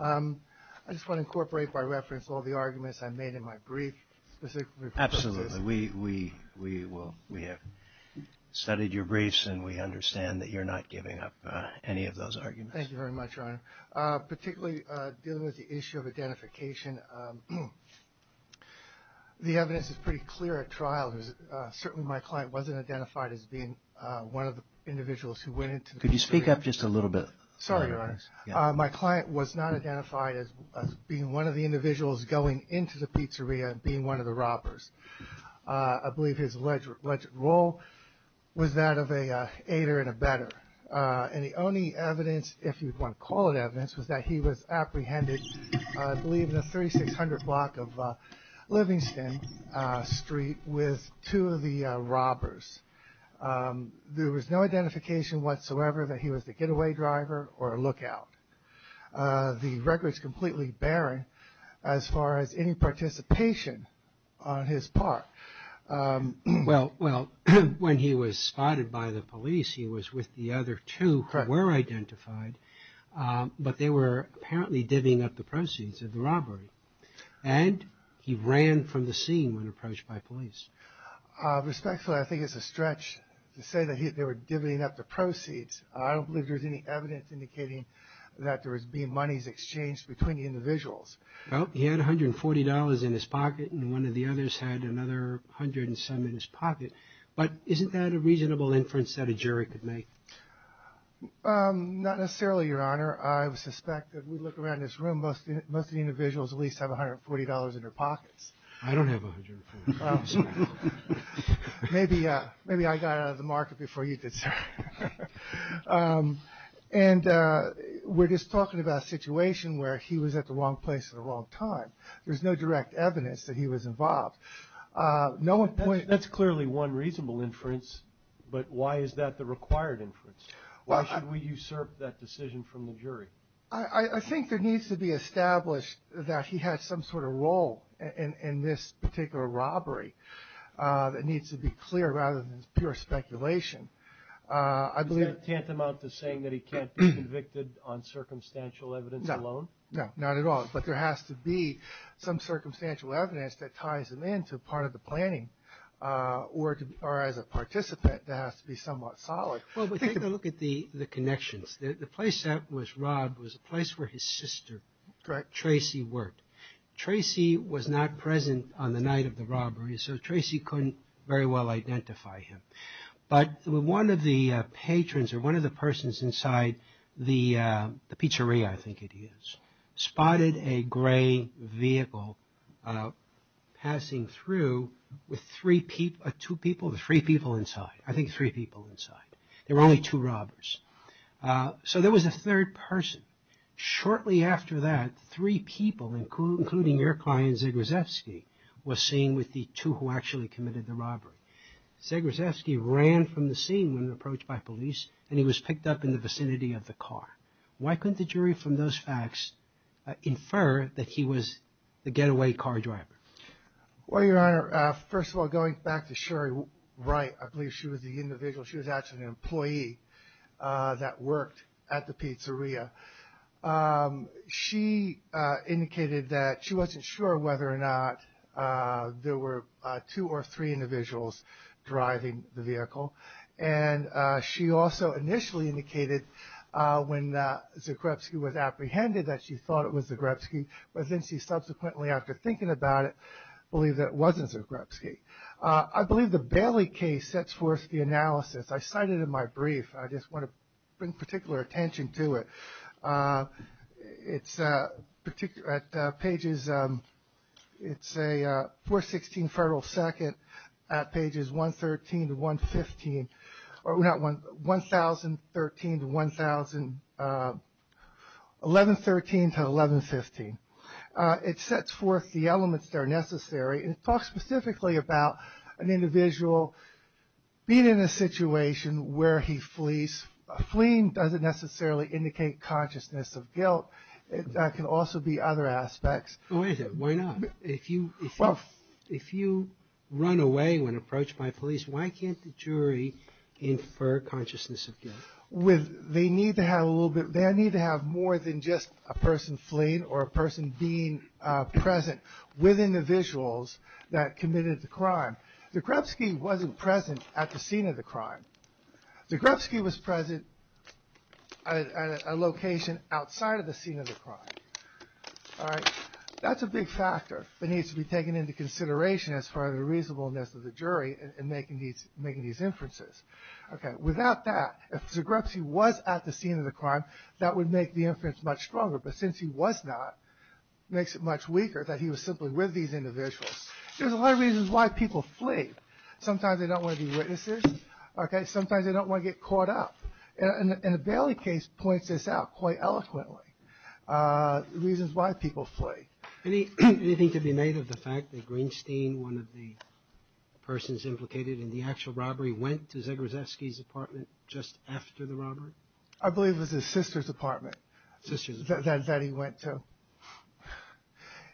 I just want to incorporate, by reference, all the arguments I made in my brief, specifically for the CISO. Absolutely. We have studied your briefs, and we understand that you're not giving up any of those arguments. Thank you very much, Your Honor. Thank you, Your Honor. Particularly dealing with the issue of identification, the evidence is pretty clear at trial. Certainly, my client wasn't identified as being one of the individuals who went into the pizzeria. Could you speak up just a little bit? Sorry, Your Honor. My client was not identified as being one of the individuals going into the pizzeria and being one of the robbers. I believe his alleged role was that of an aider and a better. And the only evidence, if you'd want to call it evidence, was that he was apprehended, I believe, in the 3600 block of Livingston Street with two of the robbers. There was no identification whatsoever that he was the getaway driver or a lookout. The record's completely barren as far as any participation on his part. Well, when he was spotted by the police, he was with the other two who were identified, but they were apparently divvying up the proceeds of the robbery. And he ran from the scene when approached by police. Respectfully, I think it's a stretch to say that they were divvying up the proceeds. I don't believe there's any evidence indicating that there was being monies exchanged between the individuals. Well, he had $140 in his pocket, and one of the others had another hundred and some in his pocket. But isn't that a reasonable inference that a jury could make? Not necessarily, Your Honor. I suspect that we look around this room, most of the individuals at least have $140 in their pockets. I don't have $140. And we're just talking about a situation where he was at the wrong place at the wrong time. There's no direct evidence that he was involved. That's clearly one reasonable inference, but why is that the required inference? Why should we usurp that decision from the jury? I think there needs to be established that he had some sort of role in this particular robbery. It needs to be clear rather than pure speculation. Is that tantamount to saying that he can't be convicted on circumstantial evidence alone? No, not at all. But there has to be some circumstantial evidence that ties him into part of the planning, or as a participant, that has to be somewhat solid. Well, we take a look at the connections. The place that was robbed was a place where his sister, Tracy, worked. Tracy was not present on the night of the robbery, so Tracy couldn't very well identify him. But one of the patrons, or one of the persons inside the pizzeria, I think it is, spotted a gray vehicle passing through with three people inside. I think three people inside. There were only two robbers. So there was a third person. Shortly after that, three people, including your client, Zegosevsky, was seen with the two who actually committed the robbery. Zegosevsky ran from the scene when approached by police, and he was picked up in the vicinity of the car. Why couldn't the jury from those facts infer that he was the getaway car driver? Well, Your Honor, first of all, going back to Sherry Wright, I believe she was the individual. She was actually an employee that worked at the pizzeria. She indicated that she wasn't sure whether or not there were two or three individuals driving the vehicle, and she also initially indicated when Zegosevsky was apprehended that she thought it was Zegosevsky, but then she subsequently, after thinking about it, believed that it wasn't Zegosevsky. I believe the Bailey case sets forth the analysis. I cite it in my brief. I just want to bring particular attention to it. It's a 416 Federal 2nd at pages 1113 to 1115. It sets forth the elements that are necessary, and it talks specifically about an individual being in a situation where he flees. Fleeing doesn't necessarily indicate consciousness of guilt. That can also be other aspects. Wait a second. Why not? If you run away when approached by police, why can't the jury infer consciousness of guilt? They need to have more than just a person fleeing or a person being present within the visuals that committed the crime. Zegosevsky wasn't present at the scene of the crime. Zegosevsky was present at a location outside of the scene of the crime. That's a big factor that needs to be taken into consideration as far as the reasonableness of the jury in making these inferences. Without that, if Zegosevsky was at the scene of the crime, that would make the inference much stronger, but since he was not, it makes it much weaker that he was simply with these individuals. There's a lot of reasons why people flee. Sometimes they don't want to be witnesses. Sometimes they don't want to get caught up. And the Bailey case points this out quite eloquently, the reasons why people flee. Anything to be made of the fact that Greenstein, one of the persons implicated in the actual robbery, went to Zegosevsky's apartment just after the robbery? I believe it was his sister's apartment that he went to.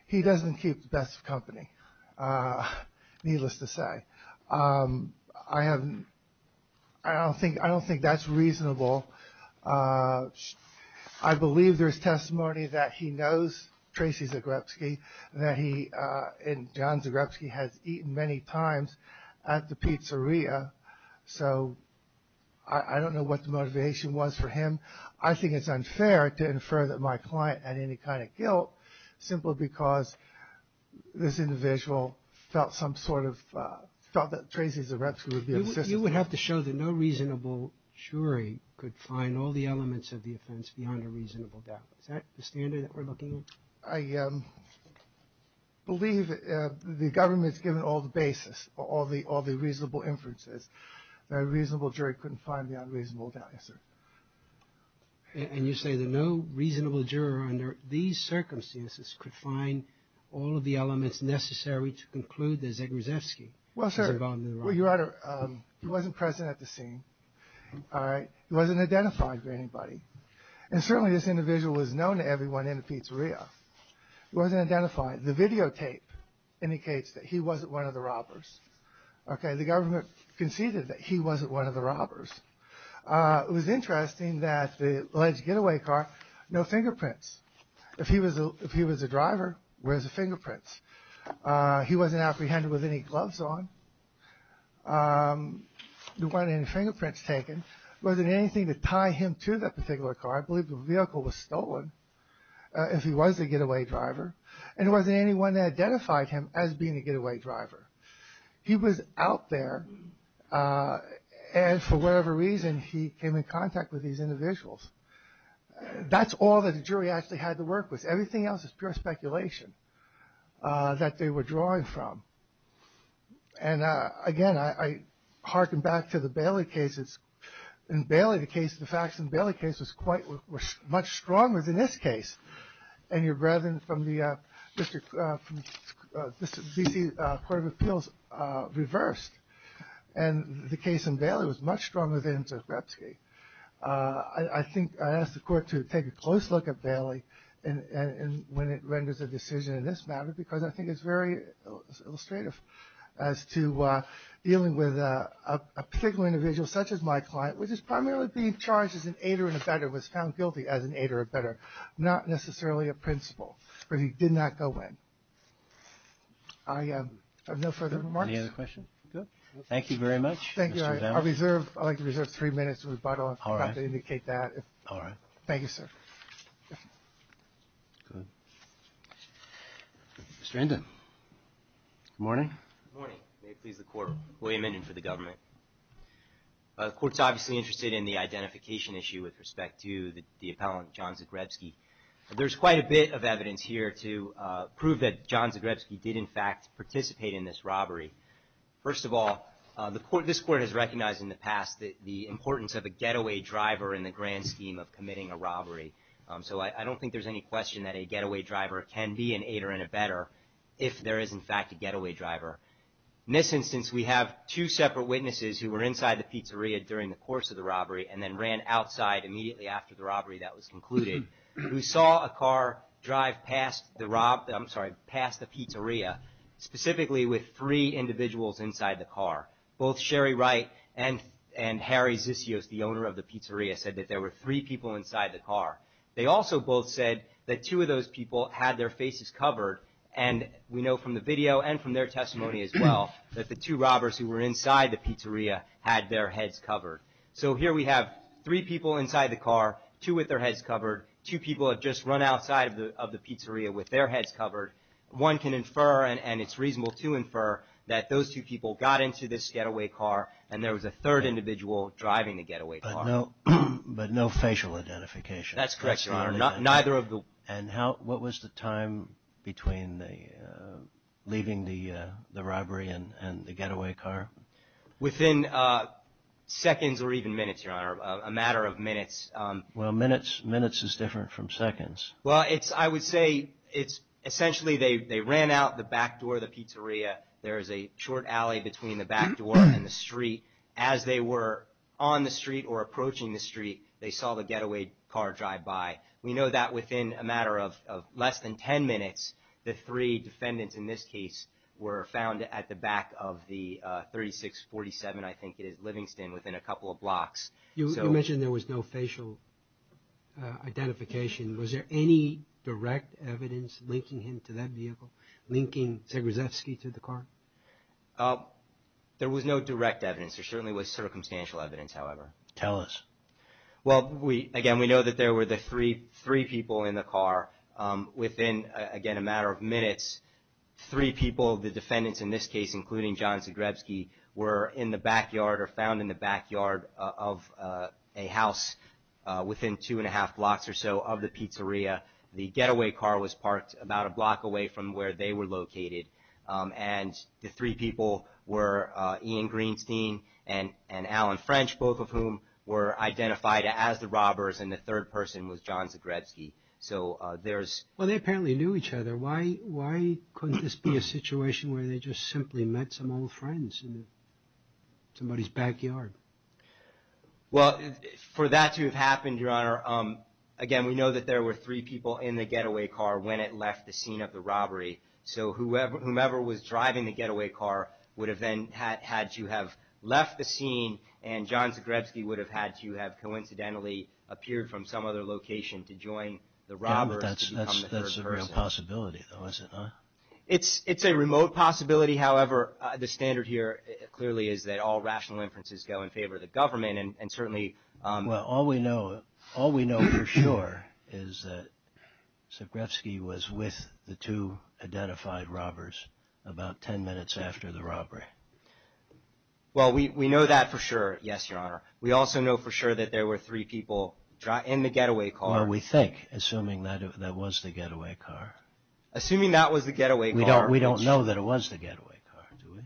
He doesn't keep the best of company, needless to say. I don't think that's reasonable. I believe there's testimony that he knows Tracy Zegosevsky, and John Zegosevsky has eaten many times at the pizzeria, so I don't know what the motivation was for him. I think it's unfair to infer that my client had any kind of guilt simply because this individual felt that Tracy Zegosevsky would be an assistant. You would have to show that no reasonable jury could find all the elements of the offense beyond a reasonable doubt. Is that the standard that we're looking at? I believe the government's given all the basis, all the reasonable inferences. A reasonable jury couldn't find the unreasonable doubt, yes, sir. And you say that no reasonable juror under these circumstances could find all of the elements necessary to conclude that Zegosevsky was involved in the robbery. Well, sir, Your Honor, he wasn't present at the scene. He wasn't identified by anybody. And certainly this individual was known to everyone in the pizzeria. He wasn't identified. The videotape indicates that he wasn't one of the robbers. The government conceded that he wasn't one of the robbers. It was interesting that the alleged getaway car, no fingerprints. If he was a driver, where's the fingerprints? He wasn't apprehended with any gloves on. There weren't any fingerprints taken. There wasn't anything to tie him to that particular car. I believe the vehicle was stolen if he was a getaway driver. And there wasn't anyone that identified him as being a getaway driver. He was out there, and for whatever reason, he came in contact with these individuals. That's all that the jury actually had to work with. Everything else is pure speculation that they were drawing from. And again, I hearken back to the Bailey case. In the Bailey case, the facts in the Bailey case were much stronger than this case. And your brethren from the D.C. Court of Appeals reversed. And the case in Bailey was much stronger than Zborepsky. I think I asked the court to take a close look at Bailey when it renders a decision in this matter because I think it's very illustrative as to dealing with a particular individual such as my client, which is primarily being charged as an aider and abetter, was found guilty as an aider and abetter. Not necessarily a principal, but he did not go in. I have no further remarks. Any other questions? Thank you very much. Thank you. I'd like to reserve three minutes for rebuttal. I forgot to indicate that. All right. Thank you, sir. Mr. Endin. Good morning. Good morning. May it please the Court. William Endin for the government. The Court's obviously interested in the identification issue with respect to the appellant John Zborepsky. There's quite a bit of evidence here to prove that John Zborepsky did, in fact, participate in this robbery. First of all, this Court has recognized in the past the importance of a getaway driver in the grand scheme of committing a robbery. So I don't think there's any question that a getaway driver can be an aider and abetter if there is, in fact, a getaway driver. In this instance, we have two separate witnesses who were inside the pizzeria during the course of the robbery and then ran outside immediately after the robbery that was concluded, who saw a car drive past the pizzeria, specifically with three individuals inside the car. Both Sherry Wright and Harry Zisios, the owner of the pizzeria, said that there were three people inside the car. They also both said that two of those people had their faces covered, and we know from the video and from their testimony as well that the two robbers who were inside the pizzeria had their heads covered. So here we have three people inside the car, two with their heads covered, two people have just run outside of the pizzeria with their heads covered. One can infer, and it's reasonable to infer, that those two people got into this getaway car and there was a third individual driving the getaway car. That's correct, Your Honor. And what was the time between leaving the robbery and the getaway car? Within seconds or even minutes, Your Honor, a matter of minutes. Well, minutes is different from seconds. Well, I would say essentially they ran out the back door of the pizzeria. There is a short alley between the back door and the street. As they were on the street or approaching the street, they saw the getaway car drive by. We know that within a matter of less than 10 minutes, the three defendants in this case were found at the back of the 3647, I think it is, Livingston, within a couple of blocks. You mentioned there was no facial identification. Was there any direct evidence linking him to that vehicle, linking Zagrzebski to the car? There was no direct evidence. There certainly was circumstantial evidence, however. Tell us. Well, again, we know that there were the three people in the car. Within, again, a matter of minutes, three people, the defendants in this case, including John Zagrzebski, were in the backyard or found in the backyard of a house within two and a half blocks or so of the pizzeria. The getaway car was parked about a block away from where they were located. And the three people were Ian Greenstein and Alan French, both of whom were identified as the robbers, and the third person was John Zagrzebski. Well, they apparently knew each other. Why couldn't this be a situation where they just simply met some old friends in somebody's backyard? Well, for that to have happened, Your Honor, again, we know that there were three people in the getaway car when it left the scene of the robbery. So whomever was driving the getaway car would have then had to have left the scene, and John Zagrzebski would have had to have coincidentally appeared from some other location to join the robbers. Yeah, but that's a real possibility, though, is it not? It's a remote possibility. However, the standard here clearly is that all rational inferences go in favor of the government. Well, all we know for sure is that Zagrzebski was with the two identified robbers about ten minutes after the robbery. Well, we know that for sure, yes, Your Honor. We also know for sure that there were three people in the getaway car. Or we think, assuming that was the getaway car. Assuming that was the getaway car. We don't know that it was the getaway car, do we?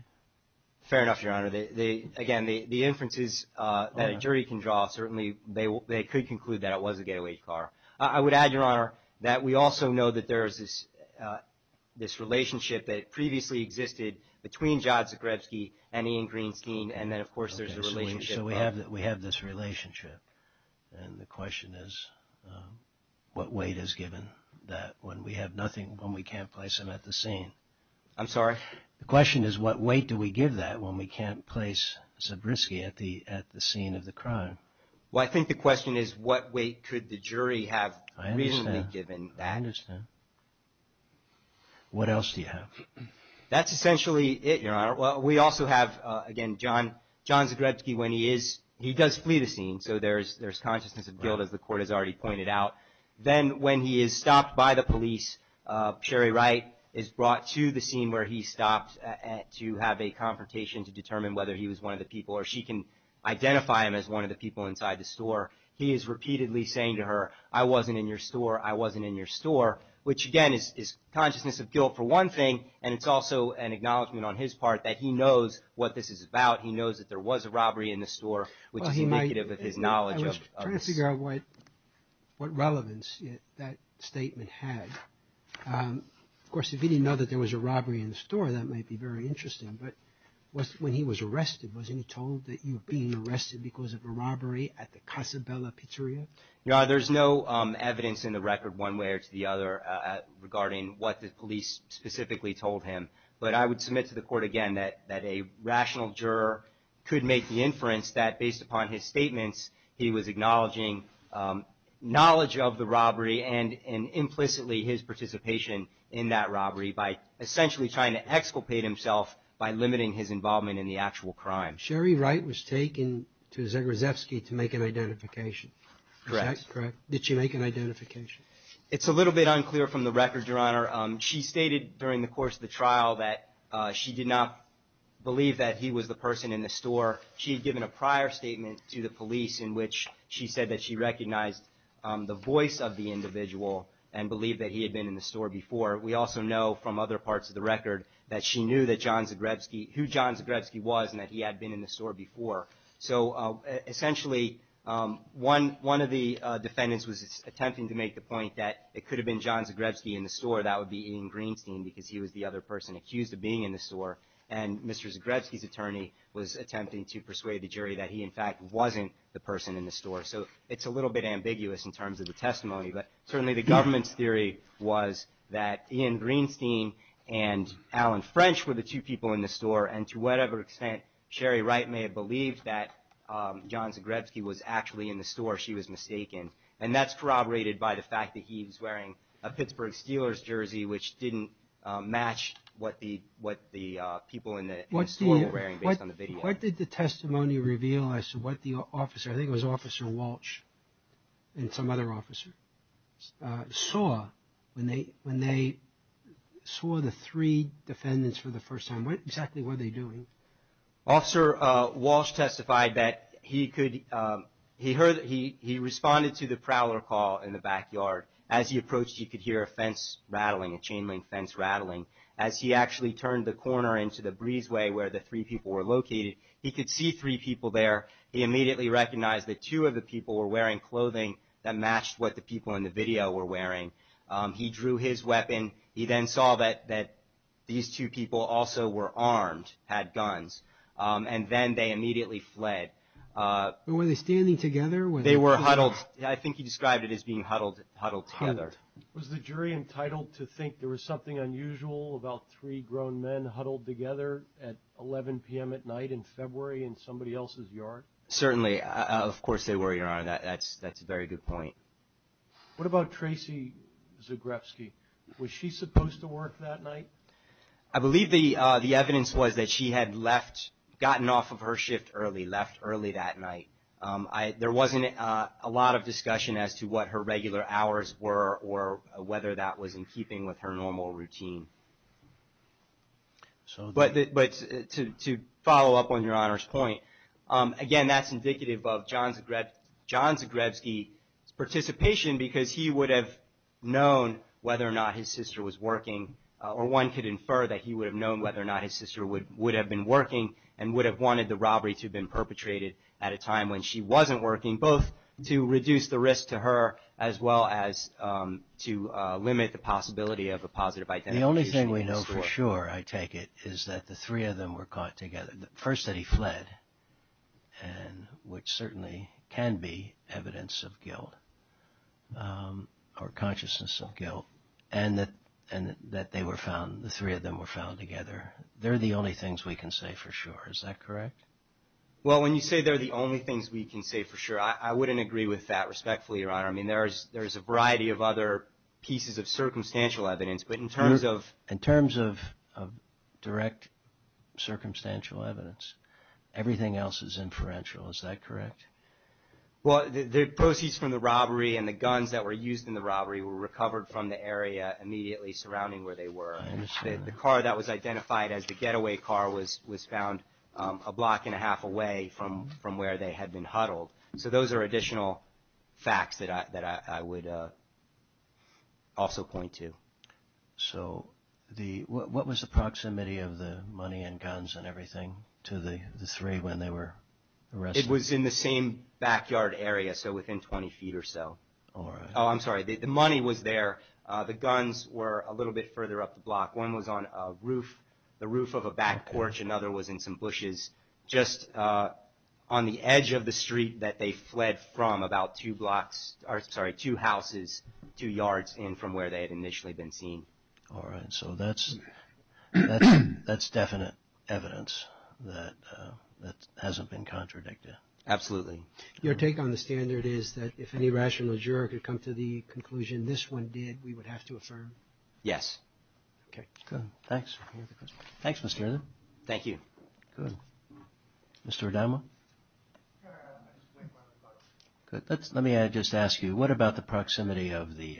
Fair enough, Your Honor. Again, the inferences that a jury can draw, certainly they could conclude that it was the getaway car. I would add, Your Honor, that we also know that there is this relationship that previously existed between John Zagrzebski and Ian Greenstein, and then, of course, there's the relationship. So we have this relationship, and the question is what weight is given that when we have nothing, when we can't place him at the scene? I'm sorry? The question is what weight do we give that when we can't place Zagrzebski at the scene of the crime? Well, I think the question is what weight could the jury have reasonably given that? I understand. What else do you have? That's essentially it, Your Honor. Well, we also have, again, John Zagrzebski, when he is, he does flee the scene, so there's consciousness of guilt, as the Court has already pointed out. Then when he is stopped by the police, Sherry Wright is brought to the scene where he's stopped to have a confrontation to determine whether he was one of the people, or she can identify him as one of the people inside the store. He is repeatedly saying to her, I wasn't in your store, I wasn't in your store, which, again, is consciousness of guilt for one thing, and it's also an acknowledgment on his part that he knows what this is about. He knows that there was a robbery in the store, which is indicative of his knowledge of this. Let's figure out what relevance that statement had. Of course, if he didn't know that there was a robbery in the store, that might be very interesting, but when he was arrested, wasn't he told that he was being arrested because of a robbery at the Casa Bella Pizzeria? Your Honor, there's no evidence in the record, one way or the other, regarding what the police specifically told him, but I would submit to the Court again that a rational juror could make the inference that, based upon his statements, he was acknowledging knowledge of the robbery and implicitly his participation in that robbery by essentially trying to exculpate himself by limiting his involvement in the actual crime. Sherry Wright was taken to Zagrzebski to make an identification. Correct. Correct. Did she make an identification? It's a little bit unclear from the record, Your Honor. She stated during the course of the trial that she did not believe that he was the person in the store. She had given a prior statement to the police in which she said that she recognized the voice of the individual and believed that he had been in the store before. We also know from other parts of the record that she knew who John Zagrzebski was and that he had been in the store before. So essentially, one of the defendants was attempting to make the point that it could have been John Zagrzebski in the store, that would be Ian Greenstein because he was the other person accused of being in the store, and Mr. Zagrzebski's attorney was attempting to persuade the jury that he, in fact, wasn't the person in the store. So it's a little bit ambiguous in terms of the testimony, but certainly the government's theory was that Ian Greenstein and Alan French were the two people in the store, and to whatever extent Sherry Wright may have believed that John Zagrzebski was actually in the store, she was mistaken. And that's corroborated by the fact that he was wearing a Pittsburgh Steelers jersey, which didn't match what the people in the store were wearing based on the video. What did the testimony reveal as to what the officer, I think it was Officer Walsh and some other officer, saw when they saw the three defendants for the first time? What exactly were they doing? Officer Walsh testified that he responded to the prowler call in the backyard. As he approached, he could hear a fence rattling, a chain link fence rattling. As he actually turned the corner into the breezeway where the three people were located, he could see three people there. He immediately recognized that two of the people were wearing clothing that matched what the people in the video were wearing. He drew his weapon. He then saw that these two people also were armed, had guns, and then they immediately fled. Were they standing together? They were huddled. I think he described it as being huddled together. Was the jury entitled to think there was something unusual about three grown men huddled together at 11 p.m. at night in February in somebody else's yard? Certainly. Of course they were, Your Honor. That's a very good point. What about Tracy Zagrebski? Was she supposed to work that night? I believe the evidence was that she had left, gotten off of her shift early, left early that night. There wasn't a lot of discussion as to what her regular hours were or whether that was in keeping with her normal routine. But to follow up on Your Honor's point, again, that's indicative of John Zagrebski's participation because he would have known whether or not his sister was working, or one could infer that he would have known whether or not his sister would have been working and would have wanted the robbery to have been perpetrated at a time when she wasn't working, both to reduce the risk to her as well as to limit the possibility of a positive identification. The only thing we know for sure, I take it, is that the three of them were caught together. First, that he fled, which certainly can be evidence of guilt or consciousness of guilt, and that they were found, the three of them were found together. They're the only things we can say for sure. Is that correct? Well, when you say they're the only things we can say for sure, I wouldn't agree with that respectfully, Your Honor. I mean, there is a variety of other pieces of circumstantial evidence. But in terms of direct circumstantial evidence, everything else is inferential. Is that correct? Well, the proceeds from the robbery and the guns that were used in the robbery were recovered from the area immediately surrounding where they were. I understand that. The car that was identified as the getaway car was found a block and a half away from where they had been huddled. So those are additional facts that I would also point to. So what was the proximity of the money and guns and everything to the three when they were arrested? It was in the same backyard area, so within 20 feet or so. All right. Oh, I'm sorry. The money was there. The guns were a little bit further up the block. One was on a roof, the roof of a back porch. Another was in some bushes just on the edge of the street that they fled from about two blocks, or sorry, two houses, two yards in from where they had initially been seen. All right. So that's definite evidence that hasn't been contradicted. Absolutely. Your take on the standard is that if any rational juror could come to the conclusion this one did, we would have to affirm? Yes. Okay. Good. Thanks. Thanks, Mr. Arden. Thank you. Good. Mr. Adamo? Let me just ask you, what about the proximity of the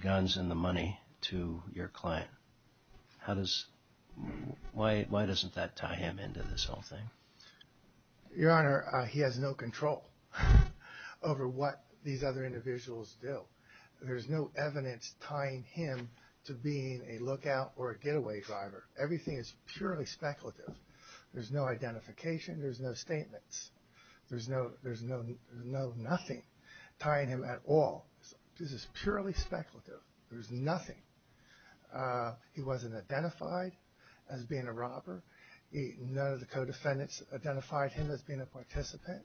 guns and the money to your client? Why doesn't that tie him into this whole thing? Your Honor, he has no control over what these other individuals do. There's no evidence tying him to being a lookout or a getaway driver. Everything is purely speculative. There's no identification. There's no statements. There's no nothing tying him at all. This is purely speculative. There's nothing. He wasn't identified as being a robber. None of the co-defendants identified him as being a participant.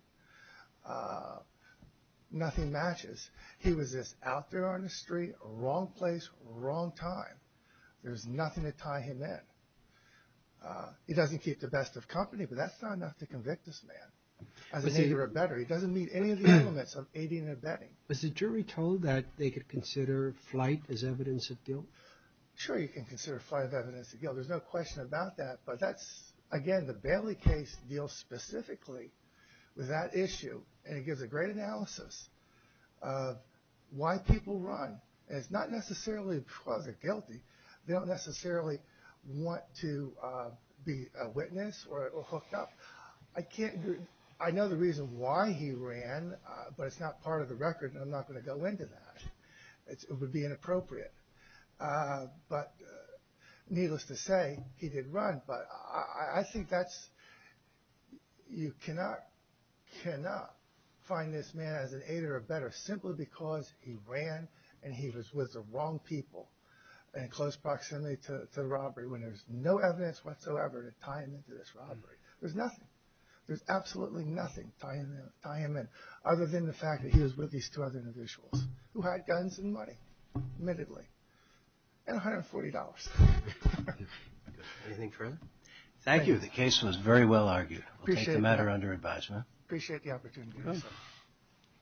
Nothing matches. He was just out there on the street, wrong place, wrong time. There's nothing to tie him in. He doesn't keep the best of company, but that's not enough to convict this man. He doesn't meet any of the elements of aiding and abetting. Is the jury told that they could consider flight as evidence of guilt? Sure, you can consider flight as evidence of guilt. There's no question about that, but that's, again, the Bailey case deals specifically with that issue. And it gives a great analysis of why people run. And it's not necessarily because they're guilty. They don't necessarily want to be a witness or hooked up. I know the reason why he ran, but it's not part of the record, and I'm not going to go into that. It would be inappropriate. But needless to say, he did run. But I think you cannot find this man as an aider or abetter simply because he ran and he was with the wrong people. And close proximity to the robbery when there's no evidence whatsoever to tie him into this robbery. There's nothing. There's absolutely nothing to tie him in other than the fact that he was with these two other individuals who had guns and money, admittedly, and $140. Anything further? Thank you. The case was very well argued. We'll take the matter under advisement. Appreciate the opportunity.